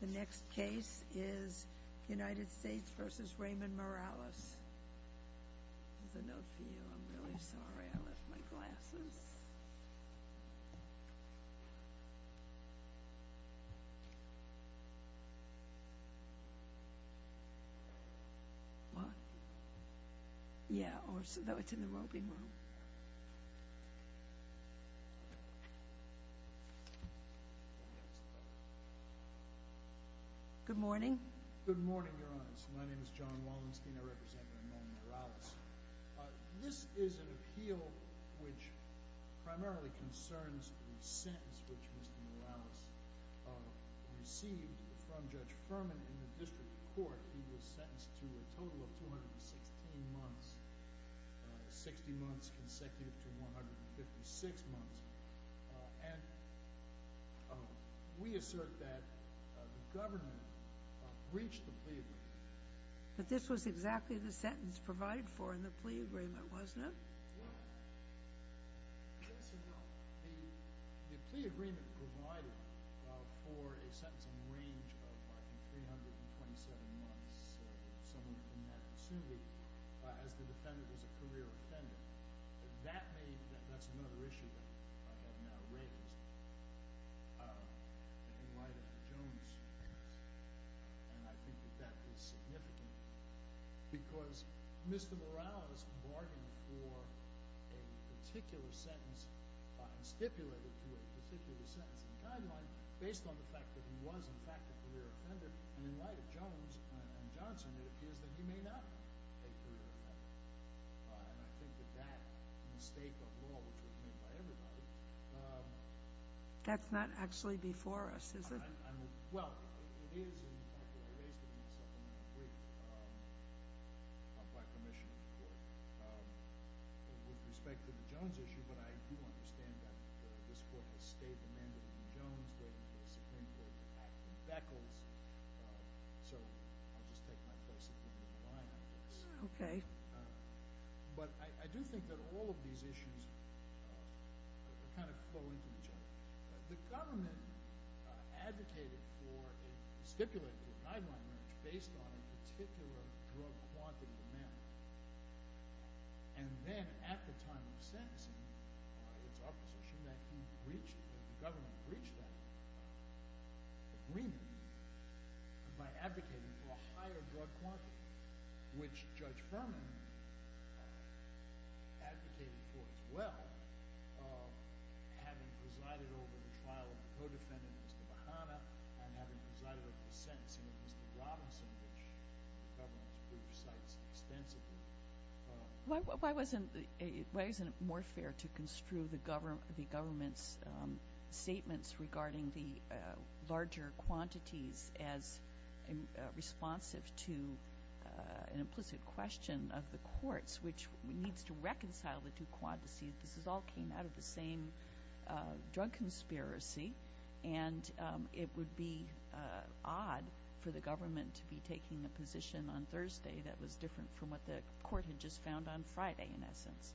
The next case is United States v. Raymond Morales. Here's a note for you. I'm really sorry. I left my glasses. What? Yeah, so it's in the roping room. Good morning. Good morning, Your Honor. My name is John Wallenstein. I represent Raymond Morales. This is an appeal which primarily concerns the sentence which Mr. Morales received from Judge Furman in the district court. He was sentenced to a total of 216 months, 60 months consecutive to 156 months. And we assert that the government breached the plea agreement. But this was exactly the sentence provided for in the plea agreement, wasn't it? What? Yes or no? The plea agreement provided for a sentence in the range of, I think, 327 months, someone in that, presumably, as the defendant was a career offender. That made – that's another issue that I have now raised in light of the Jones case, and I think that that is significant because Mr. Morales bargained for a particular sentence and stipulated to a particular sentence in the guideline based on the fact that he was, in fact, a career offender. And in light of Jones and Johnson, it appears that he may not be a career offender. And I think that that mistake of law, which was made by everybody – That's not actually before us, is it? Well, it is in fact what I raised with myself in that plea by commission of the court with respect to the Jones issue, but I do understand that this court has stayed the mandate of the Jones, waiting for the Supreme Court to act in beckles. So I'll just take my place and put it in the line, I guess. Okay. But I do think that all of these issues kind of flow into each other. The government advocated for a stipulated guideline marriage based on a particular drug quantity amendment. And then at the time of sentencing, it's our position that he breached – that the government breached that agreement by advocating for a higher drug quantity, which Judge Furman advocated for as well, having presided over the trial of the co-defendant, Mr. Bahama, and having presided over the sentencing of Mr. Robinson, which the government's brief cites extensively. Why wasn't it more fair to construe the government's statements regarding the larger quantities as responsive to an implicit question of the courts, which needs to reconcile the two quantities? This all came out of the same drug conspiracy, and it would be odd for the government to be taking a position on Thursday that was different from what the court had just found on Friday, in essence.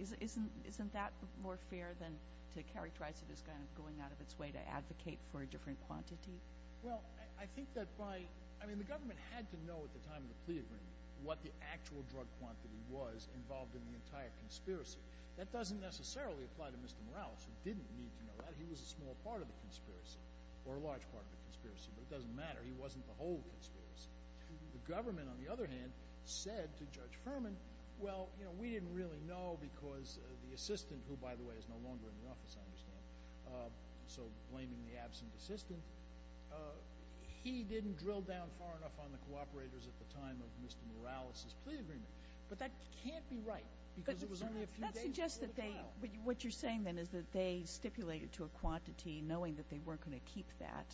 Isn't that more fair than to characterize it as kind of going out of its way to advocate for a different quantity? Well, I think that by – I mean, the government had to know at the time of the plea agreement what the actual drug quantity was involved in the entire conspiracy. That doesn't necessarily apply to Mr. Morales, who didn't need to know that. He was a small part of the conspiracy, or a large part of the conspiracy, but it doesn't matter. He wasn't the whole conspiracy. The government, on the other hand, said to Judge Furman, well, you know, we didn't really know because the assistant – who, by the way, is no longer in the office, I understand, so blaming the absent assistant – he didn't drill down far enough on the cooperators at the time of Mr. Morales's plea agreement. But that can't be right because it was only a few days before the trial. But that suggests that they – what you're saying, then, is that they stipulated to a quantity, knowing that they weren't going to keep that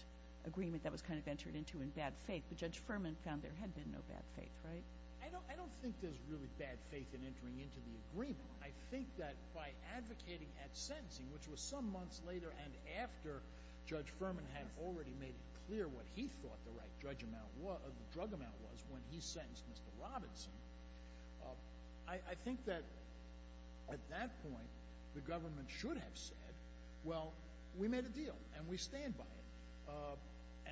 agreement that was kind of entered into in bad faith. But Judge Furman found there had been no bad faith, right? I don't think there's really bad faith in entering into the agreement. I think that by advocating at sentencing, which was some months later and after Judge Furman had already made it clear what he thought the right drug amount was when he sentenced Mr. Robinson, I think that at that point the government should have said, well, we made a deal and we stand by it.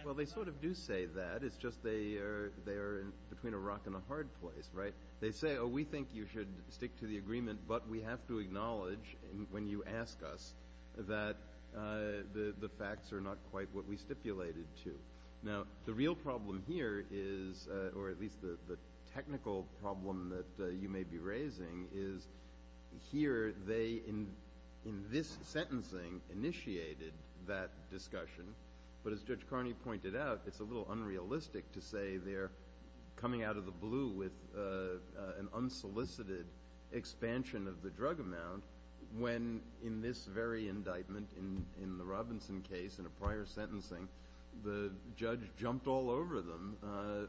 Well, they sort of do say that. It's just they are between a rock and a hard place, right? They say, oh, we think you should stick to the agreement, but we have to acknowledge when you ask us that the facts are not quite what we stipulated to. Now, the real problem here is – or at least the technical problem that you may be raising – is here they, in this sentencing, initiated that discussion. But as Judge Carney pointed out, it's a little unrealistic to say they're coming out of the blue with an unsolicited expansion of the drug amount when, in this very indictment, in the Robinson case, in a prior sentencing, the judge jumped all over them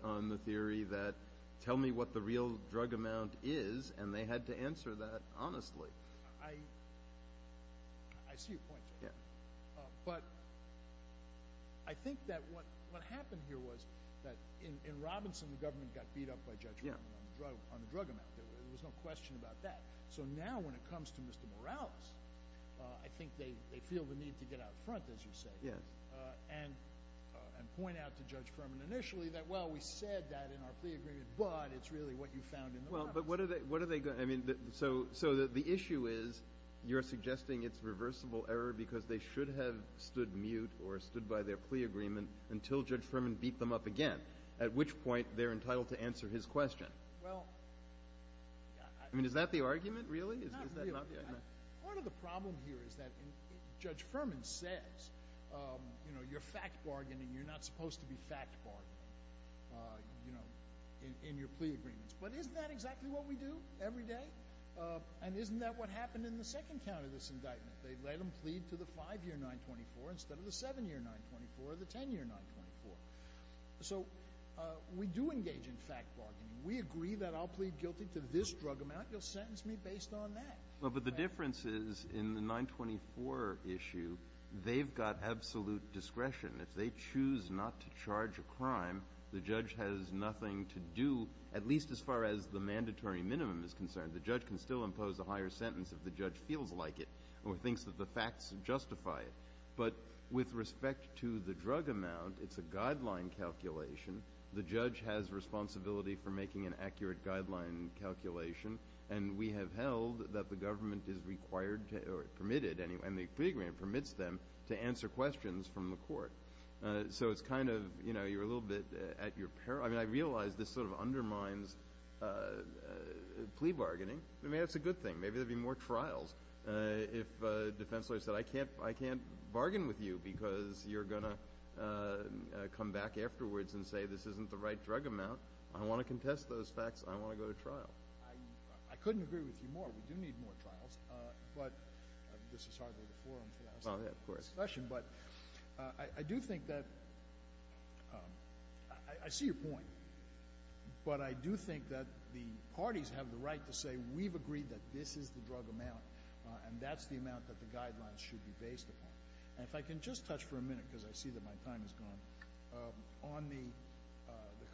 on the theory that tell me what the real drug amount is, and they had to answer that honestly. I see your point. But I think that what happened here was that in Robinson the government got beat up by Judge Furman on the drug amount. There was no question about that. So now when it comes to Mr. Morales, I think they feel the need to get out front, as you say, and point out to Judge Furman initially that, well, we said that in our plea agreement, but it's really what you found in the Robinson case. So the issue is you're suggesting it's reversible error because they should have stood mute or stood by their plea agreement until Judge Furman beat them up again, at which point they're entitled to answer his question. I mean, is that the argument, really? Not really. Part of the problem here is that Judge Furman says, you know, you're fact bargaining. You're not supposed to be fact bargaining in your plea agreements. But isn't that exactly what we do every day? And isn't that what happened in the second count of this indictment? They let him plead to the 5-year 924 instead of the 7-year 924 or the 10-year 924. So we do engage in fact bargaining. We agree that I'll plead guilty to this drug amount. You'll sentence me based on that. But the difference is in the 924 issue, they've got absolute discretion. If they choose not to charge a crime, the judge has nothing to do, at least as far as the mandatory minimum is concerned. The judge can still impose a higher sentence if the judge feels like it or thinks that the facts justify it. But with respect to the drug amount, it's a guideline calculation. The judge has responsibility for making an accurate guideline calculation, and we have held that the government is required or permitted, and the plea agreement permits them, to answer questions from the court. So it's kind of, you know, you're a little bit at your peril. I mean, I realize this sort of undermines plea bargaining. I mean, that's a good thing. Maybe there would be more trials if defense lawyers said, I can't bargain with you because you're going to come back afterwards and say this isn't the right drug amount. I want to contest those facts. I want to go to trial. I couldn't agree with you more. We do need more trials. But this is hardly the forum for that sort of discussion. But I do think that the parties have the right to say, we've agreed that this is the drug amount, and that's the amount that the guidelines should be based upon. And if I can just touch for a minute, because I see that my time has gone, on the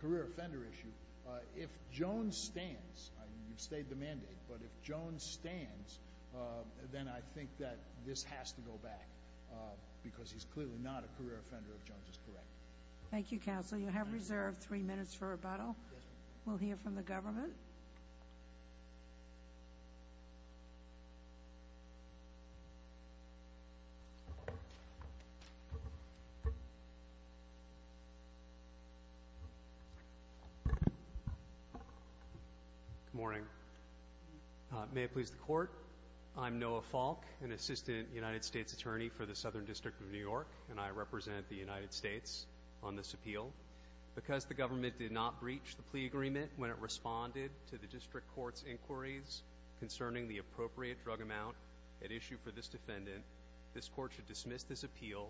career offender issue, if Jones stands, you've stayed the mandate, but if Jones stands, then I think that this has to go back, because he's clearly not a career offender if Jones is correct. Thank you, counsel. You have reserved three minutes for rebuttal. We'll hear from the government. Good morning. May it please the Court, I'm Noah Falk, an assistant United States attorney for the Southern District of New York, and I represent the United States on this appeal. Because the government did not breach the plea agreement when it responded to the district court's inquiries concerning the appropriate drug amount at issue for this defendant, this Court should dismiss this appeal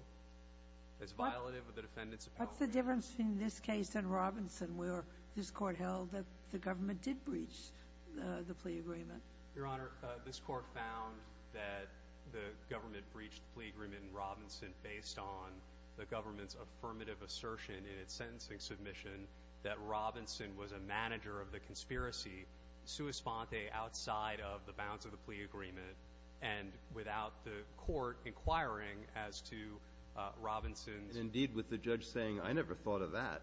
as violative of the defendant's appeal. What's the difference between this case and Robinson, where this Court held that the government did breach the plea agreement? Your Honor, this Court found that the government breached the plea agreement in Robinson based on the government's affirmative assertion in its sentencing submission that Robinson was a manager of the conspiracy sua sponte outside of the bounds of the plea agreement and without the court inquiring as to Robinson's. Indeed, with the judge saying, I never thought of that.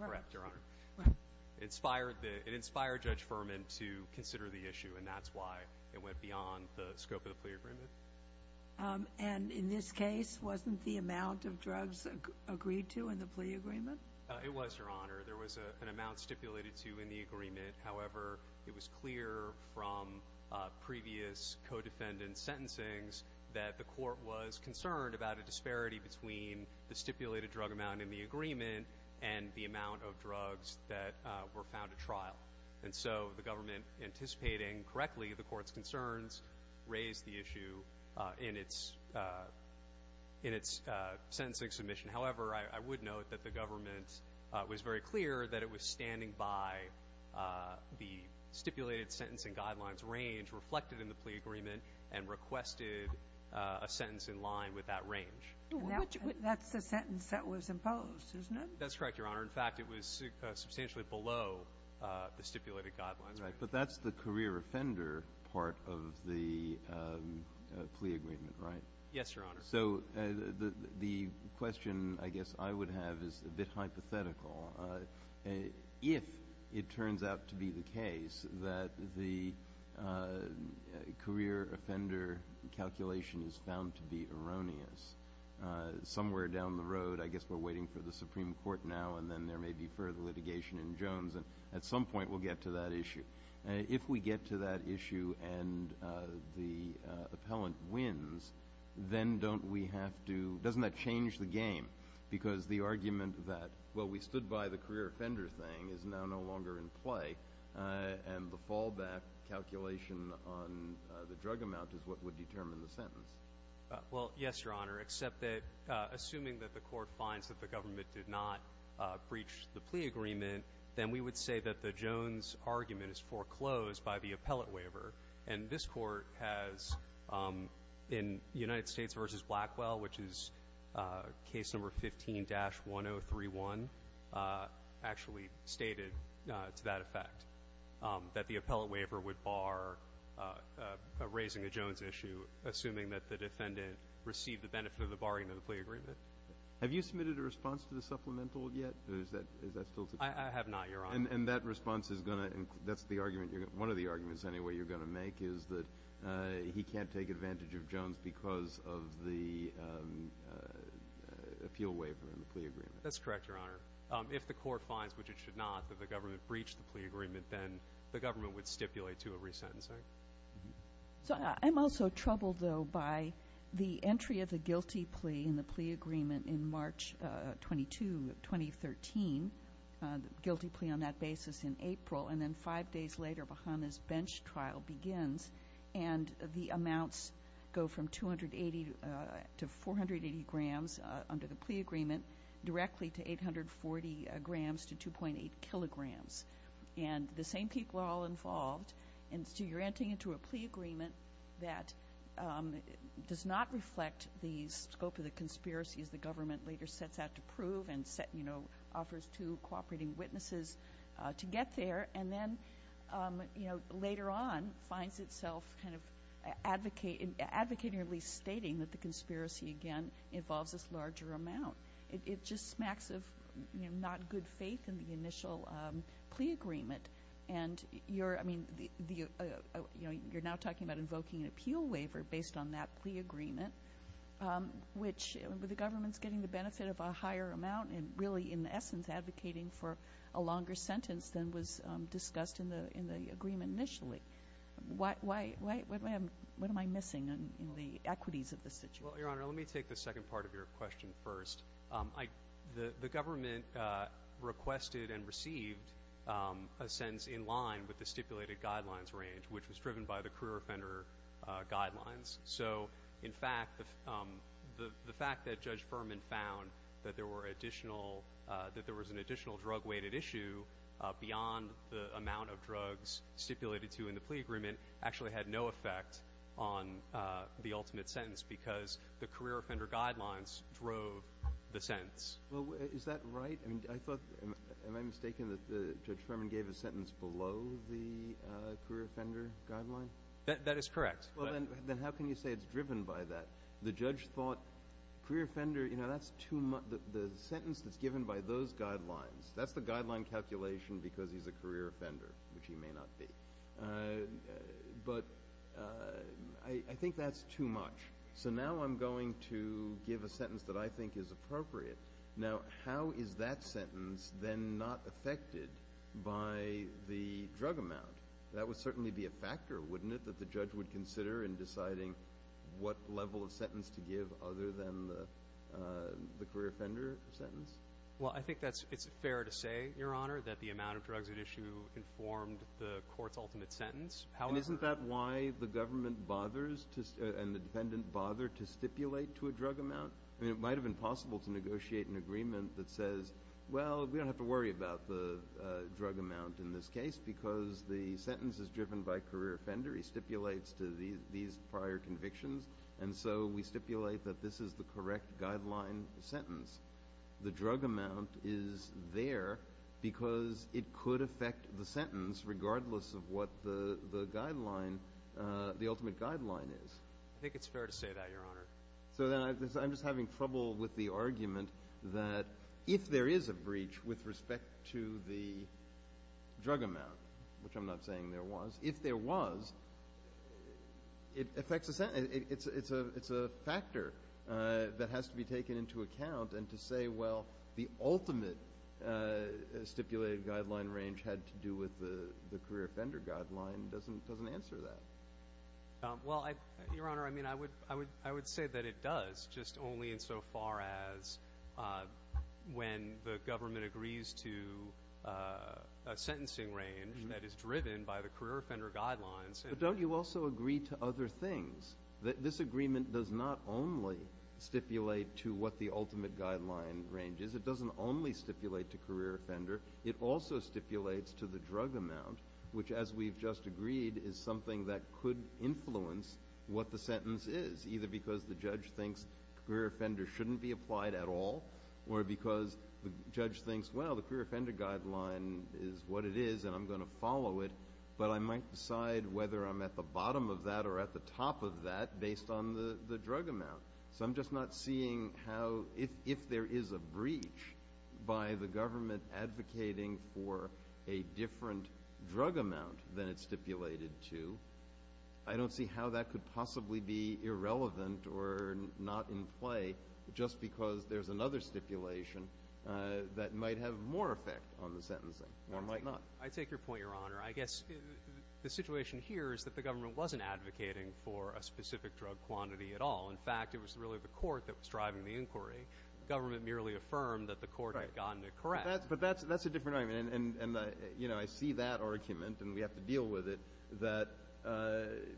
Correct, Your Honor. It inspired Judge Furman to consider the issue, and that's why it went beyond the scope of the plea agreement. And in this case, wasn't the amount of drugs agreed to in the plea agreement? It was, Your Honor. There was an amount stipulated to in the agreement. However, it was clear from previous co-defendants' sentencings that the court was concerned about a disparity between the stipulated drug amount in the agreement and the amount of drugs that were found at trial. And so the government, anticipating correctly the court's concerns, raised the issue in its sentencing submission. However, I would note that the government was very clear that it was standing by the stipulated sentence and guidelines range reflected in the plea agreement and requested a sentence in line with that range. That's the sentence that was imposed, isn't it? That's correct, Your Honor. In fact, it was substantially below the stipulated guidelines range. Right. But that's the career offender part of the plea agreement, right? Yes, Your Honor. So the question, I guess, I would have is a bit hypothetical. If it turns out to be the case that the career offender calculation is found to be erroneous, somewhere down the road, I guess we're waiting for the Supreme Court now and then there may be further litigation in Jones, and at some point we'll get to that issue. If we get to that issue and the appellant wins, then don't we have to – doesn't that change the game? Because the argument that, well, we stood by the career offender thing is now no longer in play and the fallback calculation on the drug amount is what would determine the sentence. Well, yes, Your Honor, except that assuming that the court finds that the government did not breach the plea agreement, then we would say that the Jones argument is foreclosed by the appellate waiver. And this Court has, in United States v. Blackwell, which is case number 15-1031, actually stated to that effect, that the appellate waiver would bar raising a Jones issue, assuming that the defendant received the benefit of the barring of the plea agreement. Have you submitted a response to the supplemental yet, or is that still to come? I have not, Your Honor. And that response is going to – that's the argument – one of the arguments anyway you're going to make is that he can't take advantage of Jones because of the appeal waiver and the plea agreement. That's correct, Your Honor. If the court finds, which it should not, that the government breached the plea agreement, then the government would stipulate to a resentencing. So I'm also troubled, though, by the entry of the guilty plea in the plea agreement in March 22, 2013, the guilty plea on that basis in April. And then five days later, Bahama's bench trial begins, and the amounts go from 280 to 480 grams under the plea agreement, directly to 840 grams to 2.8 kilograms. And the same people are all involved, and so you're entering into a plea agreement that does not reflect the scope of the conspiracies the government later sets out to prove and offers to cooperating witnesses to get there, and then later on finds itself kind of advocating, or at least stating that the conspiracy, again, involves this larger amount. It just smacks of not good faith in the initial plea agreement. And you're now talking about invoking an appeal waiver based on that plea agreement, which the government's getting the benefit of a higher amount and really in essence advocating for a longer sentence than was discussed in the agreement initially. What am I missing in the equities of the situation? Well, Your Honor, let me take the second part of your question first. The government requested and received a sentence in line with the stipulated guidelines range, which was driven by the career offender guidelines. So, in fact, the fact that Judge Furman found that there was an additional drug-weighted issue beyond the amount of drugs stipulated to in the plea agreement actually had no effect on the ultimate sentence because the career offender guidelines drove the sentence. Well, is that right? I mean, I thought, am I mistaken that Judge Furman gave a sentence below the career offender guideline? That is correct. Well, then how can you say it's driven by that? The judge thought career offender, you know, that's too much. The sentence that's given by those guidelines, that's the guideline calculation because he's a career offender, which he may not be. But I think that's too much. So now I'm going to give a sentence that I think is appropriate. Now, how is that sentence then not affected by the drug amount? That would certainly be a factor, wouldn't it, that the judge would consider in deciding what level of sentence to give other than the career offender sentence? Well, I think it's fair to say, Your Honor, that the amount of drugs at issue informed the court's ultimate sentence. And isn't that why the government bothers and the defendant bothered to stipulate to a drug amount? I mean, it might have been possible to negotiate an agreement that says, well, we don't have to worry about the drug amount in this case because the sentence is driven by career offender. He stipulates to these prior convictions. And so we stipulate that this is the correct guideline sentence. The drug amount is there because it could affect the sentence regardless of what the guideline, the ultimate guideline is. I think it's fair to say that, Your Honor. So then I'm just having trouble with the argument that if there is a breach with respect to the drug amount, which I'm not saying there was, if there was, it affects the sentence. It's a factor that has to be taken into account. And to say, well, the ultimate stipulated guideline range had to do with the career offender guideline doesn't answer that. Well, Your Honor, I mean, I would say that it does, just only in so far as when the government agrees to a sentencing range that is driven by the career offender guidelines. But don't you also agree to other things? This agreement does not only stipulate to what the ultimate guideline range is. It doesn't only stipulate to career offender. It also stipulates to the drug amount, which, as we've just agreed, is something that could influence what the sentence is, either because the judge thinks career offender shouldn't be applied at all or because the judge thinks, well, the career offender guideline is what it is and I'm going to follow it, but I might decide whether I'm at the bottom of that or at the top of that based on the drug amount. So I'm just not seeing how if there is a breach by the government advocating for a different drug amount than it's stipulated to, I don't see how that could possibly be irrelevant or not in play just because there's another stipulation that might have more effect on the sentencing or might not. I take your point, Your Honor. I guess the situation here is that the government wasn't advocating for a specific drug quantity at all. In fact, it was really the court that was driving the inquiry. The government merely affirmed that the court had gotten it correct. But that's a different argument. And, you know, I see that argument, and we have to deal with it, that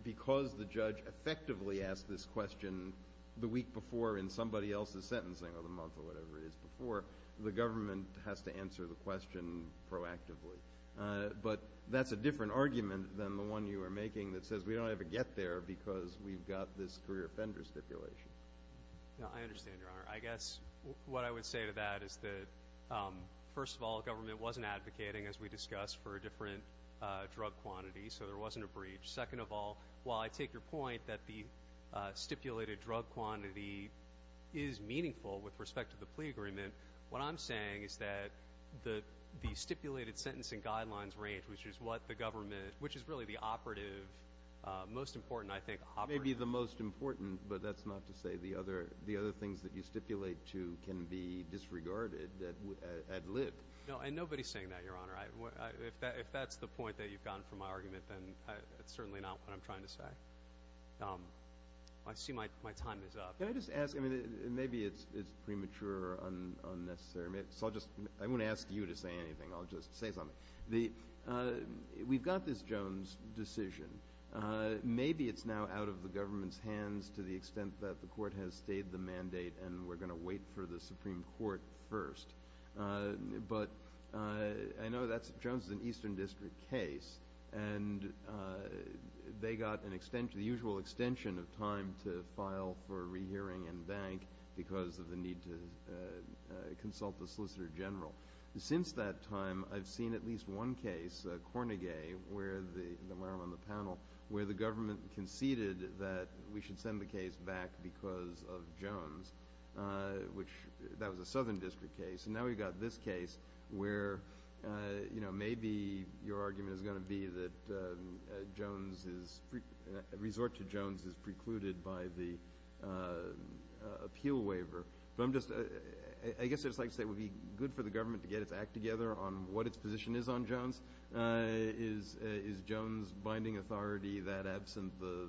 because the judge effectively asked this question the week before in somebody else's sentencing or the month or whatever it is before, the government has to answer the question proactively. But that's a different argument than the one you were making that says we don't have to get there because we've got this career offender stipulation. No, I understand, Your Honor. I guess what I would say to that is that, first of all, the government wasn't advocating, as we discussed, for a different drug quantity, so there wasn't a breach. Second of all, while I take your point that the stipulated drug quantity is meaningful with respect to the plea agreement, what I'm saying is that the stipulated sentencing guidelines range, which is what the government, which is really the operative, most important, I think, operative. Maybe the most important, but that's not to say the other things that you stipulate to can be disregarded ad lib. No, and nobody is saying that, Your Honor. If that's the point that you've gotten from my argument, then it's certainly not what I'm trying to say. I see my time is up. Can I just ask? Maybe it's premature or unnecessary, so I won't ask you to say anything. I'll just say something. We've got this Jones decision. Maybe it's now out of the government's hands to the extent that the court has stayed the mandate and we're going to wait for the Supreme Court first. But I know that Jones is an Eastern District case, and they got the usual extension of time to file for rehearing and bank because of the need to consult the Solicitor General. Since that time, I've seen at least one case, Cornegay, where I'm on the panel, where the government conceded that we should send the case back because of Jones, which that was a Southern District case. And now we've got this case where, you know, maybe your argument is going to be that Jones is resort to Jones is precluded by the appeal waiver. But I'm just going to say it would be good for the government to get its act together on what its position is on Jones. Is Jones binding authority that absent the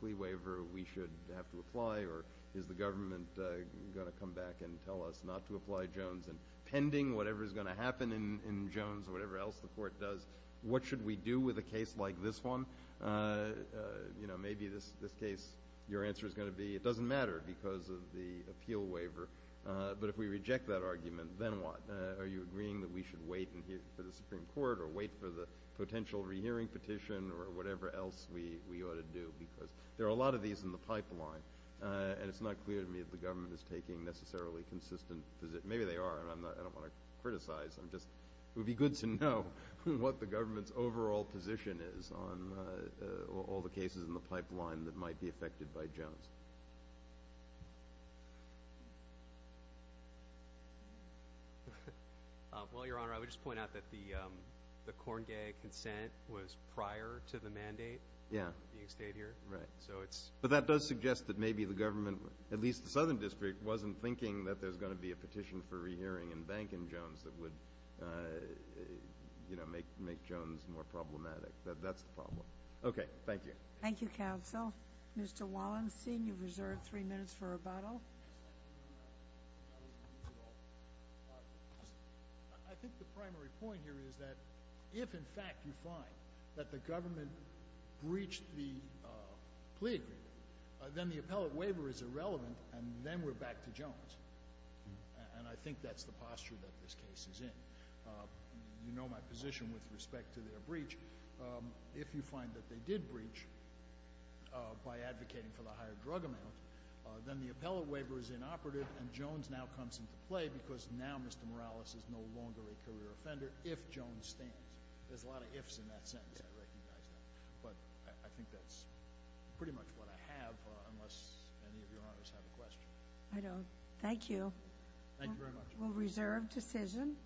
plea waiver we should have to apply, or is the government going to come back and tell us not to apply Jones? And pending whatever is going to happen in Jones or whatever else the court does, what should we do with a case like this one? You know, maybe this case, your answer is going to be it doesn't matter because of the appeal waiver. But if we reject that argument, then what? Are you agreeing that we should wait for the Supreme Court or wait for the potential rehearing petition or whatever else we ought to do? Because there are a lot of these in the pipeline, and it's not clear to me that the government is taking necessarily consistent positions. Maybe they are, and I don't want to criticize them. It would be good to know what the government's overall position is on all the cases in the pipeline that might be affected by Jones. Well, Your Honor, I would just point out that the Corngay consent was prior to the mandate. Yeah. You stayed here. Right. But that does suggest that maybe the government, at least the Southern District, wasn't thinking that there's going to be a petition for rehearing and banking Jones that would, you know, make Jones more problematic. That's the problem. Okay. Thank you. Thank you, Counsel. Mr. Wallenstein, you've reserved three minutes for rebuttal. I think the primary point here is that if, in fact, you find that the government breached the plea agreement, then the appellate waiver is irrelevant, and then we're back to Jones. And I think that's the posture that this case is in. You know my position with respect to their breach. If you find that they did breach by advocating for the higher drug amount, then the appellate waiver is inoperative and Jones now comes into play because now Mr. Morales is no longer a career offender if Jones stands. There's a lot of ifs in that sentence. I recognize that. But I think that's pretty much what I have, unless any of Your Honors have a question. I don't. Thank you. Thank you very much. We'll reserve decision.